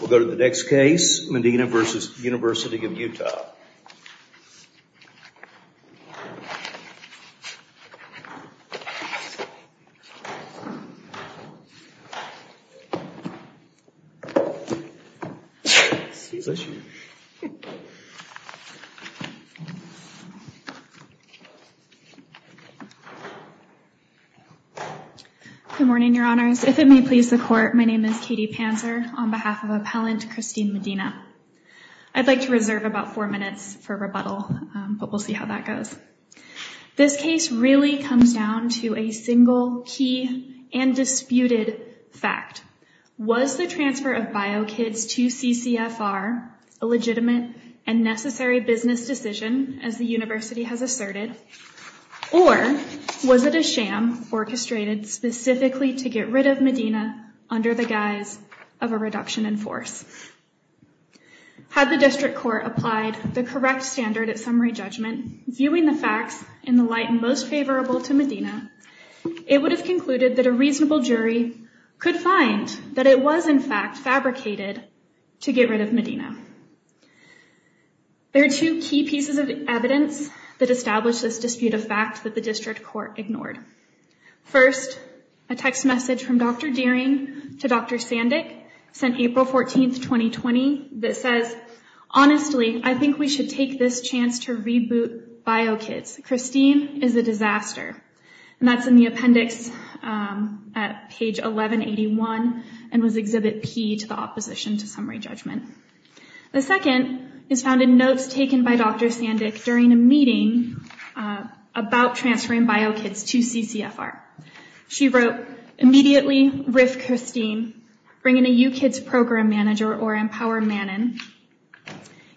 We'll go to the next case, Medina v. University of Utah. Good morning, Your Honors. If it may please the Court, my name is Katie Panzer, on behalf of Appellant Christine Medina. I'd like to reserve about four minutes for rebuttal, but we'll see how that goes. This case really comes down to a single, key, and disputed fact. Was the transfer of bio kids to CCFR a legitimate and necessary business decision, as the University has asserted? Or was it a sham orchestrated specifically to get rid of Medina under the guise of a reduction in force? Had the District Court applied the correct standard of summary judgment, viewing the facts in the light most favorable to Medina, it would have concluded that a reasonable jury could find that it was, in fact, fabricated to get rid of Medina. There are two key pieces of evidence that establish this dispute of fact that the District Court ignored. First, a text message from Dr. Dearing to Dr. Sandick, sent April 14th, 2020, that says, Honestly, I think we should take this chance to reboot bio kids. Christine is a disaster. And that's in the appendix at page 1181, and was Exhibit P to the opposition to summary judgment. The second is found in notes taken by Dr. Sandick during a meeting about transferring bio kids to CCFR. She wrote, Immediately riff Christine, bring in a U-Kids program manager or empower Manon.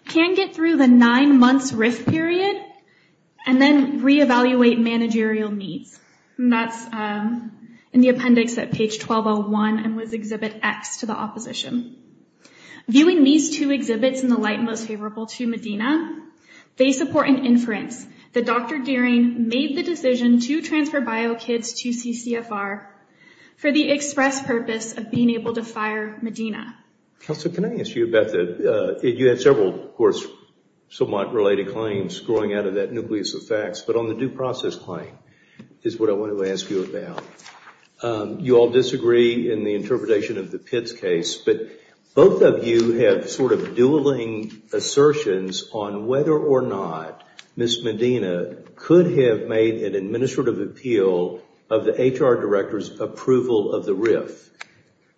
Can get through the nine months riff period, and then reevaluate managerial needs. And that's in the appendix at page 1201, and was Exhibit X to the opposition. Viewing these two exhibits in the light most favorable to Medina, they support an inference that Dr. Dearing made the decision to transfer bio kids to CCFR for the express purpose of being able to fire Medina. Counselor, can I ask you about that? You had several, of course, somewhat related claims growing out of that nucleus of facts. But on the due process claim is what I want to ask you about. You all disagree in the interpretation of the Pitts case, but both of you have sort of dueling assertions on whether or not Ms. Medina could have made an administrative appeal of the HR director's approval of the riff.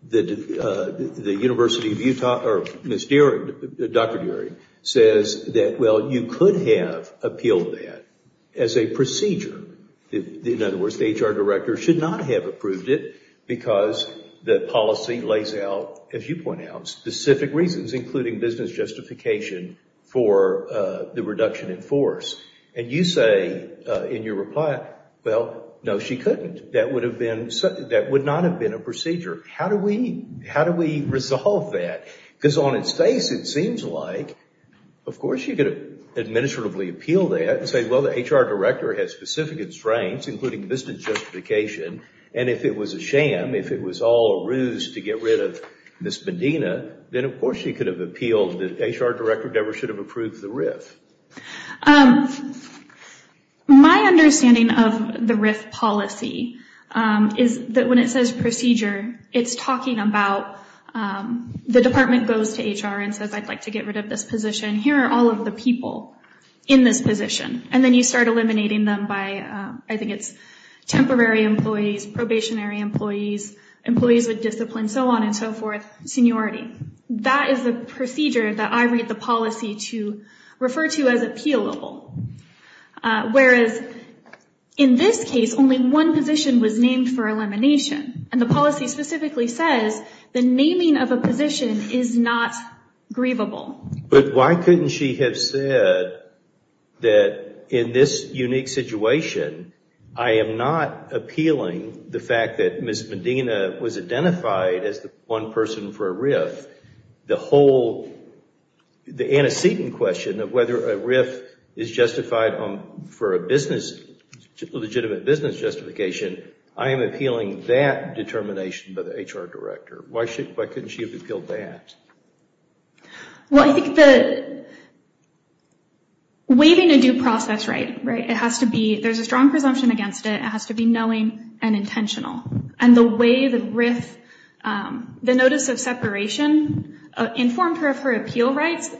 The University of Utah, or Ms. Dearing, Dr. Dearing, says that, well, you could have appealed that as a procedure. In other words, the HR director should not have approved it because the policy lays out, as you point out, specific reasons, including business justification for the reduction in force. And you say in your reply, well, no, she couldn't. That would not have been a procedure. How do we resolve that? Because on its face, it seems like, of course, you could have administratively appealed that and said, well, the HR director has specific constraints, including business justification. And if it was a sham, if it was all a ruse to get rid of Ms. Medina, then, of course, you could have appealed that HR director Debra should have approved the riff. My understanding of the riff policy is that when it says procedure, it's talking about, the department goes to HR and says, I'd like to get rid of this position. Here are all of the people in this position. And then you start eliminating them by, I think it's temporary employees, probationary employees, employees with discipline, so on and so forth, seniority. That is the procedure that I read the policy to refer to as appealable. Whereas in this case, only one position was named for elimination. And the policy specifically says the naming of a position is not grievable. But why couldn't she have said that in this unique situation, I am not appealing the fact that Ms. Medina was identified as the one person for a riff. The whole antecedent question of whether a riff is justified for a business, legitimate business justification, I am appealing that determination by the HR director. Why couldn't she have appealed that? Well, I think that waiving a due process right, it has to be, there's a strong presumption against it. It has to be knowing and intentional. And the way the riff, the notice of separation informed her of her appeal rights.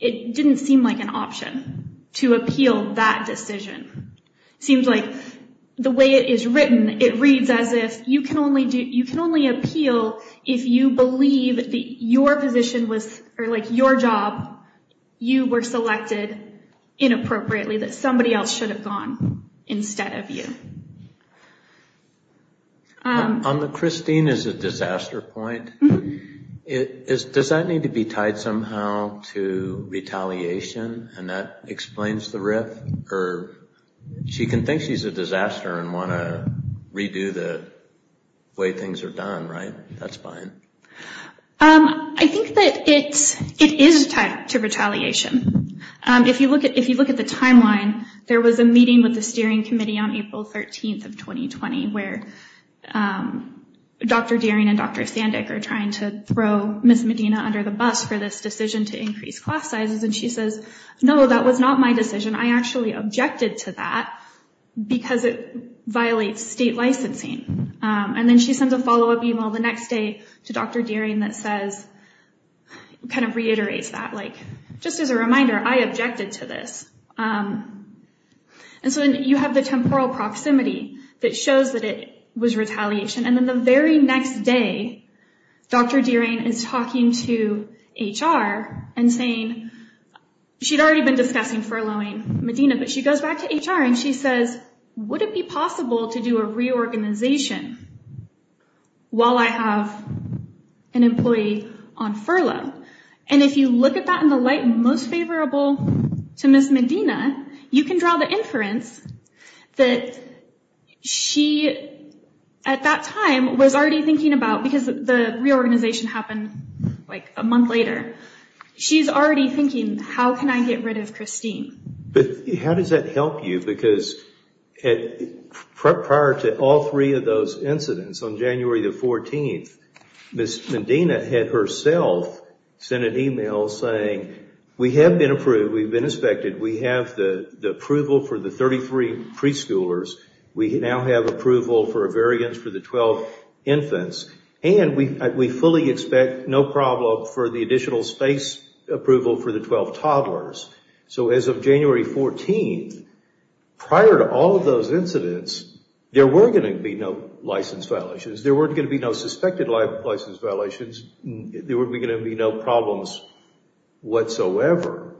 It didn't seem like an option to appeal that decision. Seems like the way it is written, it reads as if you can only appeal if you believe that your position was, or like your job, you were selected inappropriately, that somebody else should have gone instead of you. On the Christine is a disaster point, does that need to be tied somehow to retaliation? And that explains the riff, or she can think she's a disaster and want to redo the way things are done, right? That's fine. I think that it is tied to retaliation. If you look at if you look at the timeline, there was a meeting with the steering committee on April 13th of 2020, where Dr. Dearing and Dr. Sandek are trying to throw Ms. Medina under the bus for this decision to increase class sizes. And she says, no, that was not my decision. I actually objected to that because it violates state licensing. And then she sends a follow up email the next day to Dr. Dearing that says kind of reiterates that, like, just as a reminder, I objected to this. And so you have the temporal proximity that shows that it was retaliation. And then the very next day, Dr. Dearing is talking to H.R. and saying she'd already been discussing furloughing Medina, but she goes back to H.R. And she says, would it be possible to do a reorganization while I have an employee on furlough? And if you look at that in the light most favorable to Ms. Medina, you can draw the inference that she at that time was already thinking about, because the reorganization happened like a month later. She's already thinking, how can I get rid of Christine? How does that help you? Because prior to all three of those incidents on January the 14th, Ms. Medina had herself sent an email saying, we have been approved. We've been inspected. We have the approval for the 33 preschoolers. We now have approval for a variance for the 12 infants. And we fully expect no problem for the additional space approval for the 12 toddlers. So as of January 14th, prior to all of those incidents, there were going to be no license violations. There weren't going to be no suspected license violations. There were going to be no problems whatsoever.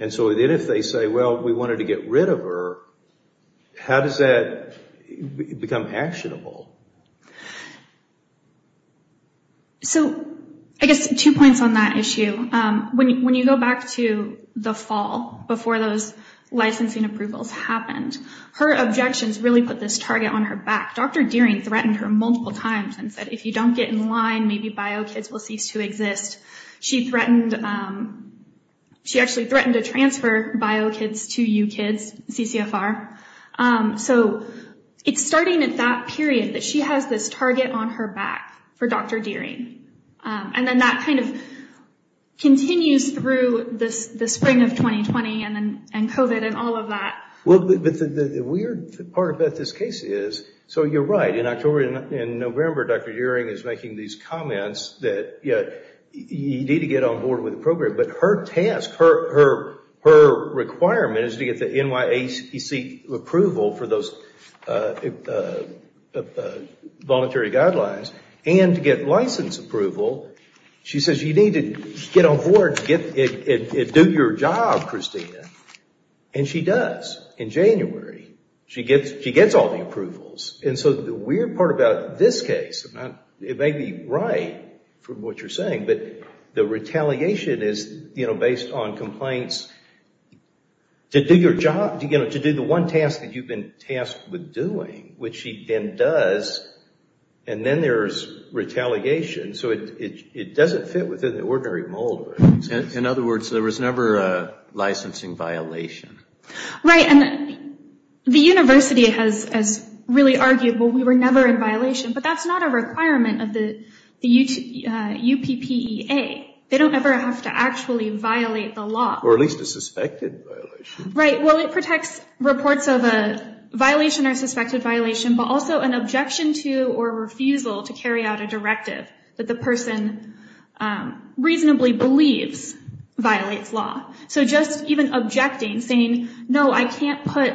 And so then if they say, well, we wanted to get rid of her, how does that become actionable? So I guess two points on that issue. When you go back to the fall, before those licensing approvals happened, her objections really put this target on her back. Dr. Dearing threatened her multiple times and said, if you don't get in line, maybe BioKids will cease to exist. She threatened, she actually threatened to transfer BioKids to UCIDS, CCFR. So it's starting at that period that she has this target on her back for Dr. Dearing. And then that kind of continues through the spring of 2020 and COVID and all of that. Well, the weird part about this case is, so you're right, in October and November, Dr. Dearing is making these comments that you need to get on board with the program. But her task, her requirement is to get the NYACC approval for those voluntary guidelines and to get license approval. She says you need to get on board and do your job, Christina. And she does. In January, she gets all the approvals. And so the weird part about this case, it may be right from what you're saying, but the retaliation is based on complaints. To do your job, to do the one task that you've been tasked with doing, which she then does, and then there's retaliation. So it doesn't fit within the ordinary mold. In other words, there was never a licensing violation. Right. And the university has really argued, well, we were never in violation. But that's not a requirement of the UPPEA. They don't ever have to actually violate the law. Or at least a suspected violation. Right. Well, it protects reports of a violation or suspected violation, but also an objection to or refusal to carry out a directive that the person reasonably believes violates law. So just even objecting, saying, no, I can't put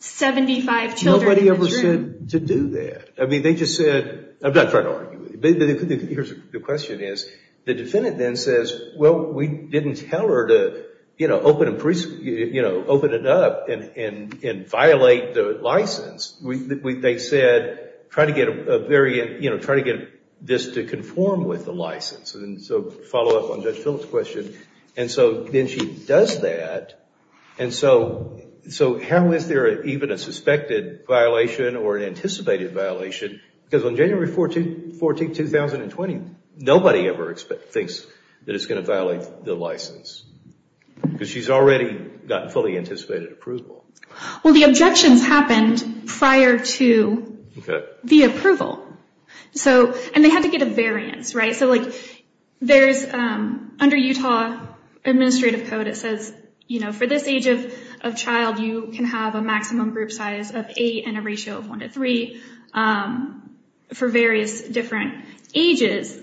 75 children in this room. Nobody ever said to do that. I mean, they just said, I'm not trying to argue with you. The question is, the defendant then says, well, we didn't tell her to open it up and violate the license. They said, try to get this to conform with the license. And so follow up on Judge Phillips' question. And so then she does that. And so how is there even a suspected violation or an anticipated violation? Because on January 14, 2020, nobody ever thinks that it's going to violate the license. Because she's already gotten fully anticipated approval. Well, the objections happened prior to the approval. And they had to get a variance, right? So there's, under Utah Administrative Code, it says, you know, for this age of child, you can have a maximum group size of eight and a ratio of one to three for various different ages.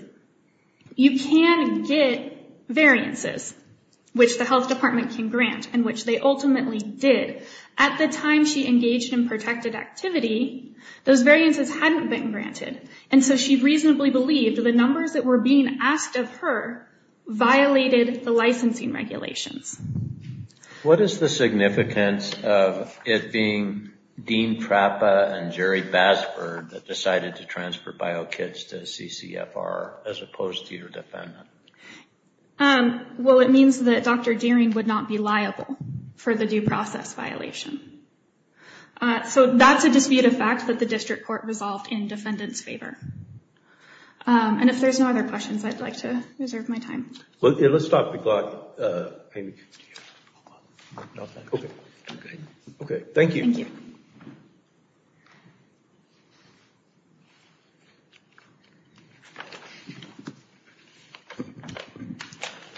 You can get variances, which the health department can grant and which they ultimately did. At the time she engaged in protected activity, those variances hadn't been granted. And so she reasonably believed the numbers that were being asked of her violated the licensing regulations. What is the significance of it being Dean Trappa and Jerry Basford that decided to transfer bio kits to CCFR as opposed to your defendant? Well, it means that Dr. Dearing would not be liable for the due process violation. So that's a dispute of fact that the district court resolved in defendant's favor. And if there's no other questions, I'd like to reserve my time. Let's stop the clock. Thank you.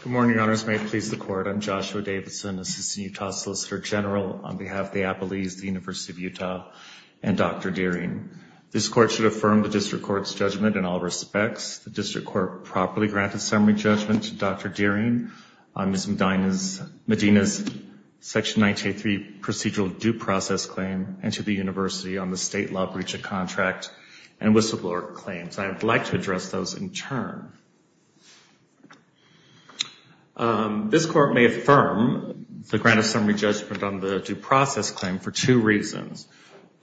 Good morning, Your Honors. May it please the Court. I'm Joshua Davidson, Assistant Utah Solicitor General on behalf of the Appalachian University of Utah and Dr. Dearing. This court should affirm the district court's judgment in all respects. The district court properly granted summary judgment to Dr. Dearing on Ms. Medina's Section 983 procedural due process claim and to the university on the state law breach of contract and whistleblower claims. I'd like to address those in turn. This court may affirm the grant of summary judgment on the due process claim for two reasons.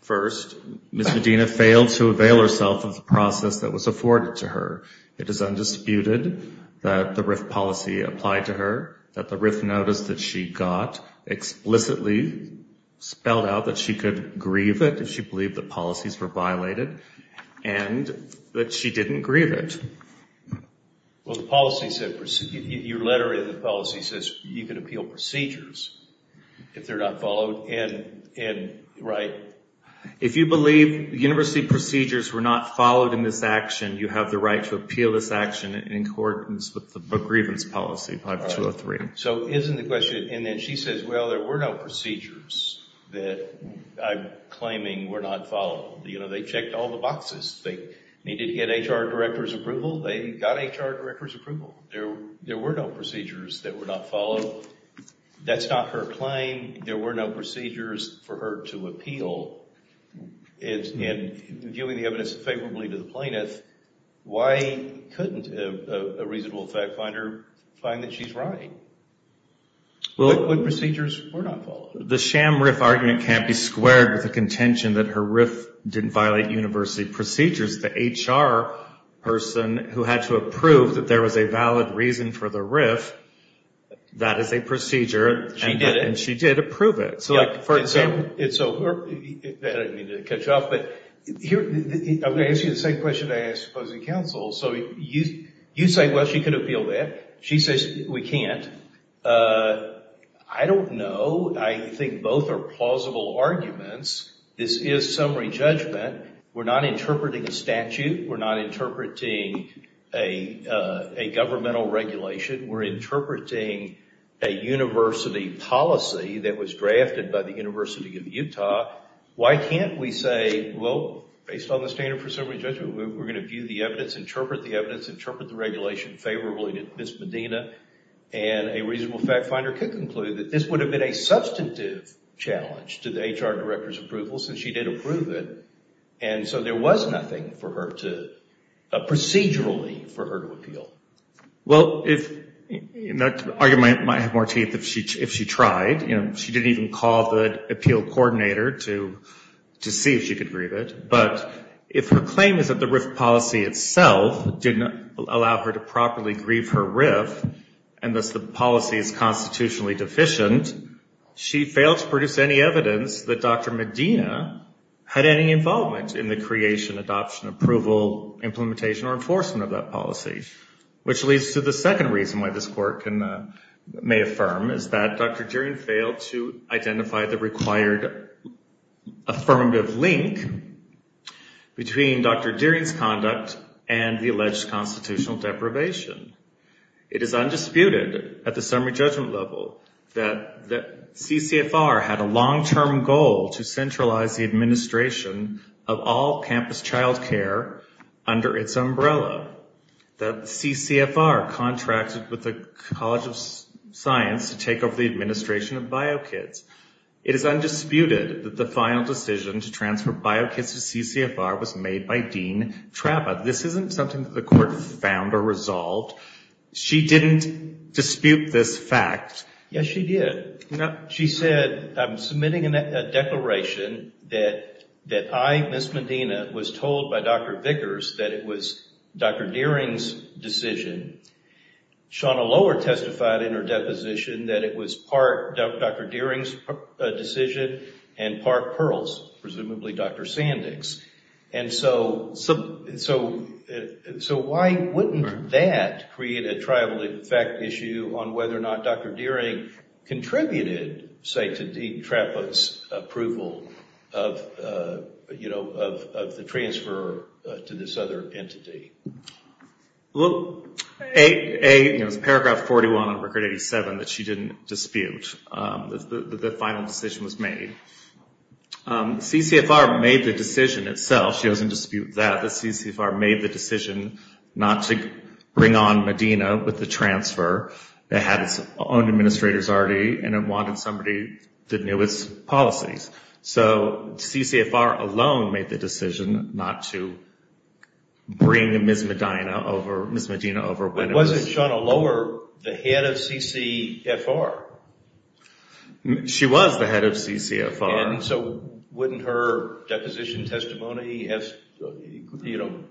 First, Ms. Medina failed to avail herself of the process that was afforded to her. It is undisputed that the RIF policy applied to her, that the RIF notice that she got explicitly spelled out that she could grieve it if she believed the policies were violated, and that she didn't grieve it. Well, the policy said, your letter in the policy says you can appeal procedures if they're not followed, and right? If you believe university procedures were not followed in this action, you have the right to appeal this action in accordance with the grievance policy, 5203. So isn't the question, and then she says, well, there were no procedures that I'm claiming were not followed. You know, they checked all the boxes. They needed to get HR director's approval. They got HR director's approval. There were no procedures that were not followed. That's not her claim. There were no procedures for her to appeal, and giving the evidence favorably to the plaintiff, why couldn't a reasonable fact finder find that she's right? What procedures were not followed? Well, the sham RIF argument can't be squared with the contention that her RIF didn't violate university procedures. The HR person who had to approve that there was a valid reason for the RIF, that is a procedure. She did it. And she did approve it. So, for example. So, I don't mean to cut you off, but I'm going to ask you the same question I asked opposing counsel. So you say, well, she could appeal that. She says, we can't. I don't know. I think both are plausible arguments. This is summary judgment. We're not interpreting a statute. We're not interpreting a governmental regulation. We're interpreting a university policy that was drafted by the University of Utah. Why can't we say, well, based on the standard for summary judgment, we're going to view the evidence, interpret the evidence, interpret the regulation favorably to Ms. Medina, and a reasonable fact finder could conclude that this would have been a substantive challenge to the HR director's approval since she did approve it. And so there was nothing for her to, procedurally, for her to appeal. Well, that argument might have more teeth if she tried. You know, she didn't even call the appeal coordinator to see if she could grieve it. But if her claim is that the RIF policy itself didn't allow her to properly grieve her RIF, and thus the policy is constitutionally deficient, she failed to produce any evidence that Dr. Medina had any involvement in the creation, adoption, approval, implementation, or enforcement of that policy, which leads to the second reason why this court may affirm, is that Dr. Deering failed to identify the required affirmative link between Dr. Deering's conduct and the alleged constitutional deprivation. It is undisputed at the summary judgment level that CCFR had a long-term goal to centralize the administration of all campus child care under its umbrella, that CCFR contracted with the College of Science to take over the administration of BioKids. It is undisputed that the final decision to transfer BioKids to CCFR was made by Dean Trappa. This isn't something that the court found or resolved. She didn't dispute this fact. Yes, she did. She said, I'm submitting a declaration that I, Ms. Medina, was told by Dr. Vickers that it was Dr. Deering's decision. Shawna Lower testified in her deposition that it was part Dr. Deering's decision and part Pearl's, presumably Dr. Sandick's. And so, why wouldn't that create a tribal effect issue on whether or not Dr. Deering contributed, say, to Dean Trappa's approval of the transfer to this other entity? Well, it's paragraph 41 of Record 87 that she didn't dispute that the final decision was made. CCFR made the decision itself. She doesn't dispute that. The CCFR made the decision not to bring on Medina with the transfer. It had its own administrators already and it wanted somebody that knew its policies. So, CCFR alone made the decision not to bring Ms. Medina over. But wasn't Shawna Lower the head of CCFR? She was the head of CCFR. And so, wouldn't her deposition testimony have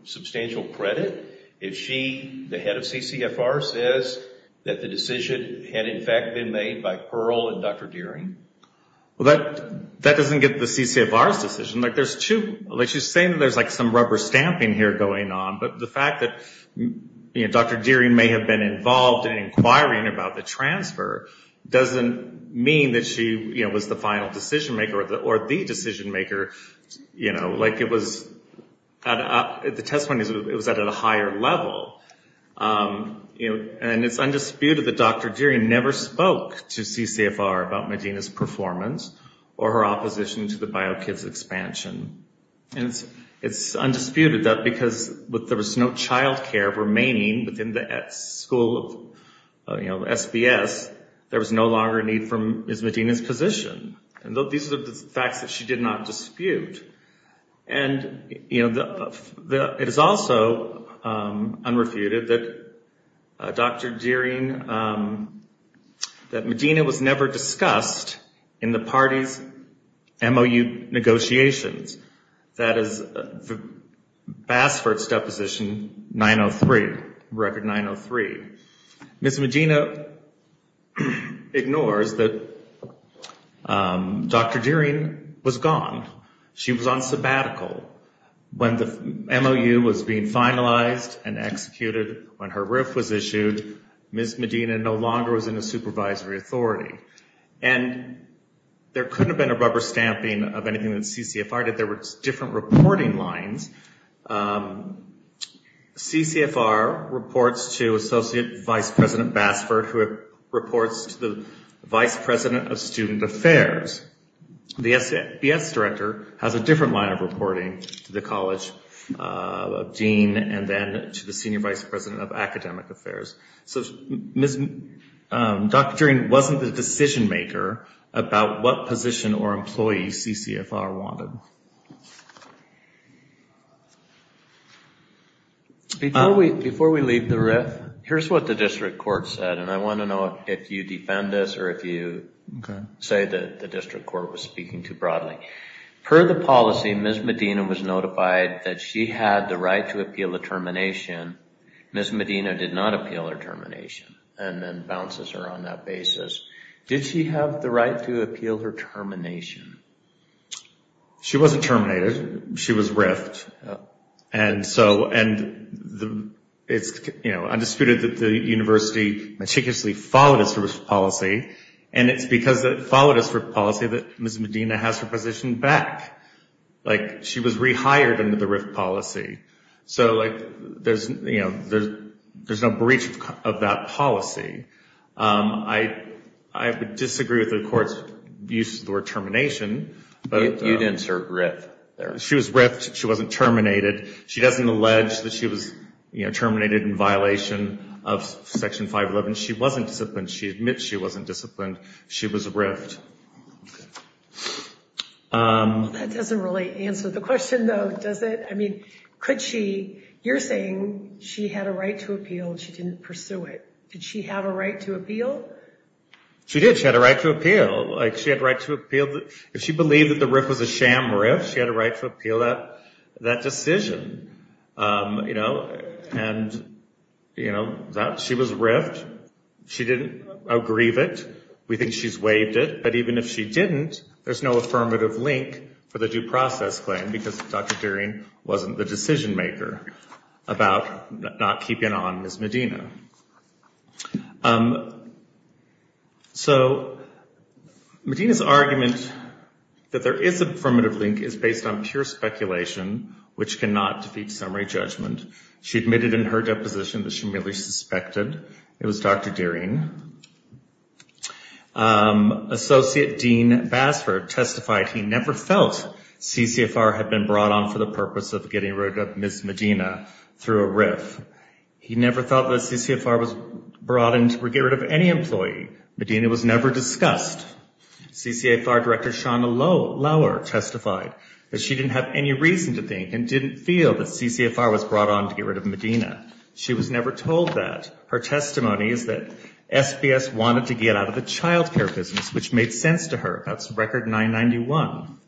substantial credit? If she, the head of CCFR, says that the decision had, in fact, been made by Pearl and Dr. Deering? Well, that doesn't get the CCFR's decision. Like, she's saying that there's some rubber stamping here going on, but the fact that Dr. Deering may have been involved in inquiring about the transfer doesn't mean that she was the final decision maker or the decision maker. Like, it was, the testimony was at a higher level. And it's undisputed that Dr. Deering never spoke to CCFR about Medina's performance or her opposition to the BioKids expansion. And it's undisputed that because there was no child care remaining within the school of SBS, there was no longer a need for Ms. Medina's position. And these are the facts that she did not dispute. And, you know, it is also unrefuted that Dr. Deering, that Medina was never discussed in the party's MOU negotiations. That is the Basford's deposition 903, record 903. Ms. Medina ignores that Dr. Deering was gone. She was on sabbatical. When the MOU was being finalized and executed, when her RIF was issued, Ms. Medina no longer was in the supervisory authority. And there couldn't have been a rubber stamping of anything that CCFR did. There were different reporting lines. CCFR reports to Associate Vice President Basford, who reports to the Vice President of Student Affairs. The SBS director has a different line of reporting to the College of Dean and then to the Senior Vice President of Academic Affairs. So Dr. Deering wasn't the decision maker about what position or employee CCFR wanted. Before we leave the RIF, here's what the district court said. And I want to know if you defend this or if you say that the district court was speaking too broadly. Per the policy, Ms. Medina was notified that she had the right to appeal the termination. Ms. Medina did not appeal her termination and then bounces her on that basis. Did she have the right to appeal her termination? She wasn't terminated. She was RIF'd. And so it's undisputed that the university meticulously followed its RIF policy. And it's because it followed its RIF policy that Ms. Medina has her position back. She was rehired under the RIF policy. So there's no breach of that policy. I would disagree with the court's use of the word termination. You'd insert RIF there. She was RIF'd. She wasn't terminated. She doesn't allege that she was terminated in violation of Section 511. She wasn't disciplined. She admits she wasn't disciplined. She was RIF'd. That doesn't really answer the question, though, does it? I mean, could she? You're saying she had a right to appeal and she didn't pursue it. Did she have a right to appeal? She did. She had a right to appeal. If she believed that the RIF was a sham RIF, she had a right to appeal that decision. And she was RIF'd. She didn't aggrieve it. We think she's waived it. But even if she didn't, there's no affirmative link for the due process claim because Dr. Dering wasn't the decision maker about not keeping on Ms. Medina. So Medina's argument that there is a affirmative link is based on pure speculation, which cannot defeat summary judgment. She admitted in her deposition that she merely suspected it was Dr. Dering. Associate Dean Basford testified he never felt CCFR had been brought on for the purpose of getting rid of Ms. Medina through a RIF. He never thought that CCFR was brought on to get rid of any employee. Medina was never discussed. CCFR Director Shauna Lauer testified that she didn't have any reason to think and didn't feel that CCFR was brought on to get rid of Medina. She was never told that. Her testimony is that SBS wanted to get out of the child care business, which made sense to her. That's Record 991.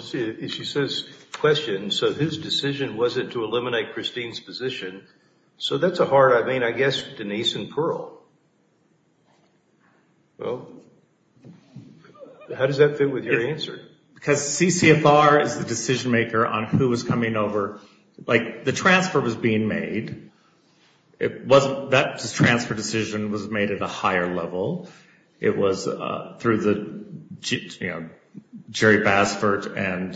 She says, question, so his decision wasn't to eliminate Christine's position. So that's a hard, I mean, I guess Denise and Pearl. How does that fit with your answer? Because CCFR is the decision maker on who was coming over. Like, the transfer was being made. That transfer decision was made at a higher level. It was through the, you know, Jerry Basford and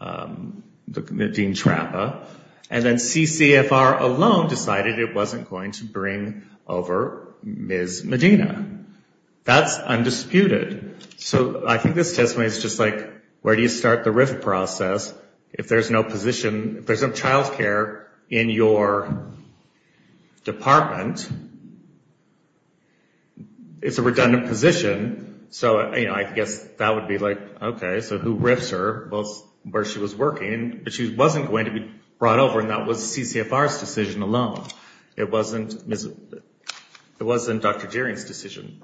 Dean Trappa. And then CCFR alone decided it wasn't going to bring over Ms. Medina. That's undisputed. So I think this testimony is just like, where do you start the RIF process if there's no position, if there's no child care in your department? It's a redundant position. So, you know, I guess that would be like, okay, so who RIFs her? Well, where she was working, but she wasn't going to be brought over and that was CCFR's decision alone. It wasn't Dr. Gering's decision.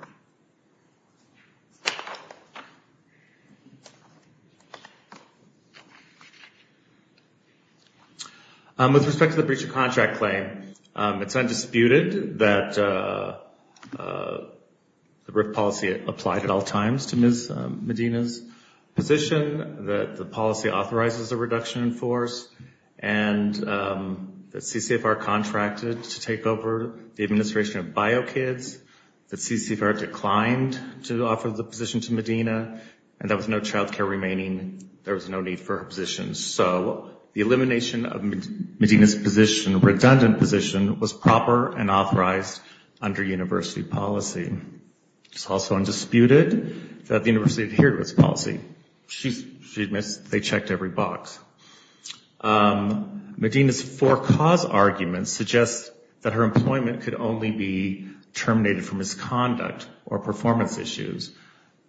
With respect to the breach of contract claim, it's undisputed. It's undisputed that the RIF policy applied at all times to Ms. Medina's position, that the policy authorizes a reduction in force, and that CCFR contracted to take over the administration of BioKids, that CCFR declined to offer the position to Medina, and there was no child care remaining. There was no need for her position. So the elimination of Medina's position, redundant position, was proper and authorized under university policy. It's also undisputed that the university adhered to its policy. She admits they checked every box. Medina's for-cause argument suggests that her employment could only be terminated for misconduct or performance issues,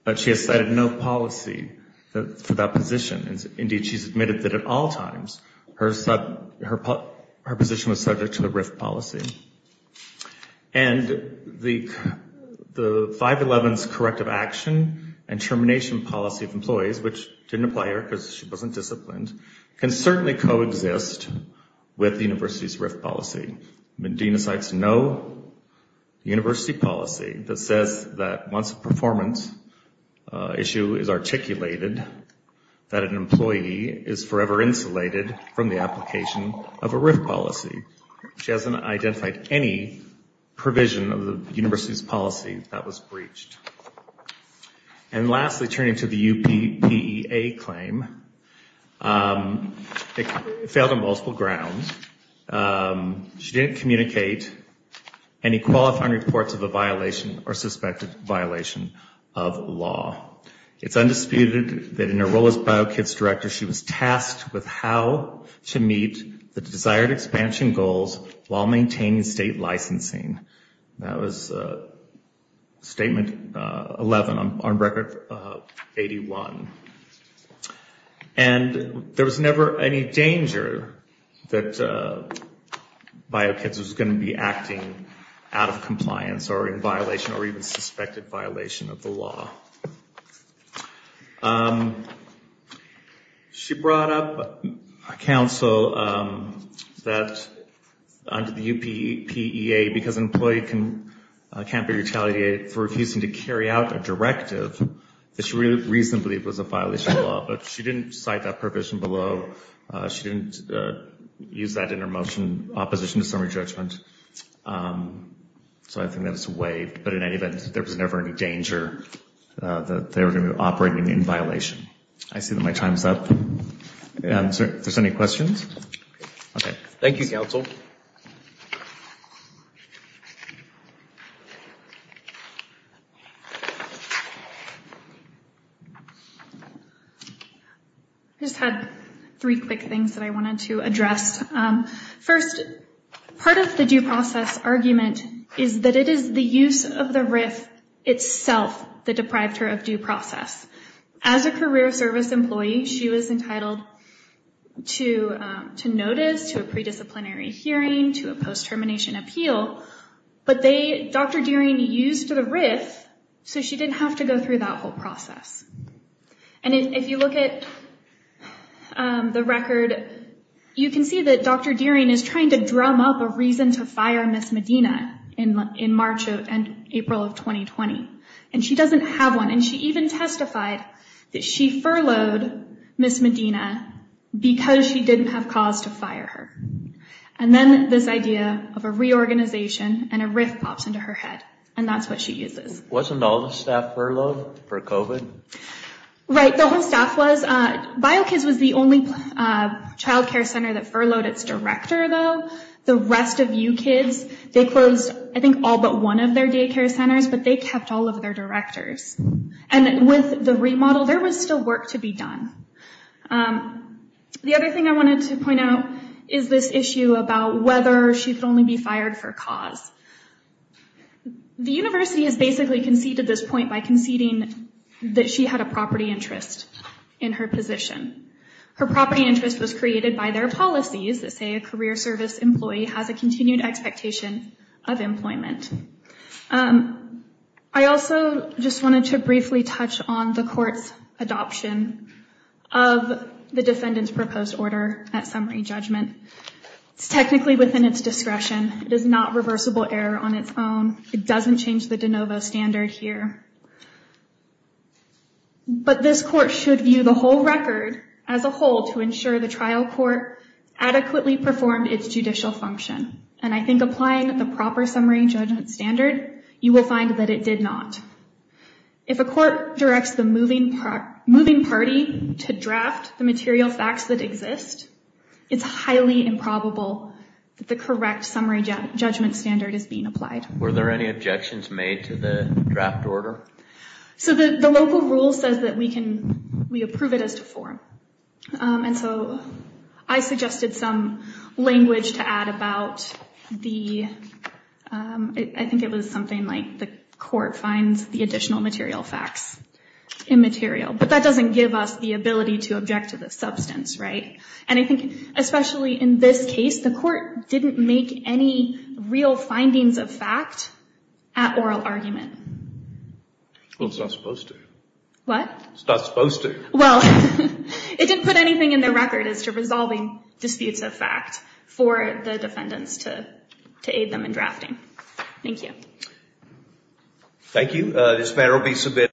but she has cited no policy for that position. Indeed, she's admitted that at all times her position was subject to the RIF policy. And the 511's corrective action and termination policy of employees, which didn't apply here because she wasn't disciplined, can certainly coexist with the university's RIF policy. Medina cites no university policy that says that once a performance issue is articulated, that an employee is forever insulated from the application of a RIF policy. She hasn't identified any provision of the university's policy that was breached. And lastly, turning to the UPEA claim, it failed on multiple grounds. She didn't communicate any qualifying reports of a violation or suspected violation of law. It's undisputed that in her role as BioKids director, she was tasked with how to meet the desired expansion goals while maintaining state licensing. That was Statement 11 on Record 81. And there was never any danger that BioKids was going to be acting out of compliance or in violation or even suspected violation of the law. She brought up a counsel that under the UPEA, because an employee can't be retaliated for refusing to carry out a directive, that she reasonably believes was a violation of the law. But she didn't cite that provision below. She didn't use that in her motion in opposition to summary judgment. So I think that's waived. But in any event, there was never any danger that they were going to be operating in violation. I see that my time is up. If there's any questions. Okay. Thank you, counsel. I just had three quick things that I wanted to address. First, part of the due process argument is that it is the use of the RIF itself that deprived her of due process. As a career service employee, she was entitled to notice, to a pre-disciplinary hearing, to a post-termination appeal. But Dr. Deering used the RIF so she didn't have to go through that whole process. And if you look at the record, you can see that Dr. Deering is trying to drum up a reason to fire Ms. Medina in March and April of 2020. And she doesn't have one. And she even testified that she furloughed Ms. Medina because she didn't have cause to fire her. And then this idea of a reorganization and a RIF pops into her head. And that's what she uses. Wasn't all the staff furloughed for COVID? Right. The whole staff was. Bio Kids was the only child care center that furloughed its director, though. The rest of U Kids, they closed, I think, all but one of their daycare centers, but they kept all of their directors. And with the remodel, there was still work to be done. The other thing I wanted to point out is this issue about whether she could only be fired for cause. The university has basically conceded this point by conceding that she had a property interest in her position. Her property interest was created by their policies that say a career service employee has a continued expectation of employment. I also just wanted to briefly touch on the court's adoption of the defendant's proposed order at summary judgment. It's technically within its discretion. It is not reversible error on its own. It doesn't change the de novo standard here. But this court should view the whole record as a whole to ensure the trial court adequately performed its judicial function. And I think applying the proper summary judgment standard, you will find that it did not. If a court directs the moving party to draft the material facts that exist, it's highly improbable that the correct summary judgment standard is being applied. Were there any objections made to the draft order? So the local rule says that we approve it as to form. And so I suggested some language to add about the, I think it was something like the court finds the additional material facts immaterial. But that doesn't give us the ability to object to the substance, right? And I think especially in this case, the court didn't make any real findings of fact at oral argument. Well, it's not supposed to. What? It's not supposed to. Well, it didn't put anything in the record as to resolving disputes of fact for the defendants to aid them in drafting. Thank you. Thank you. This matter will be submitted.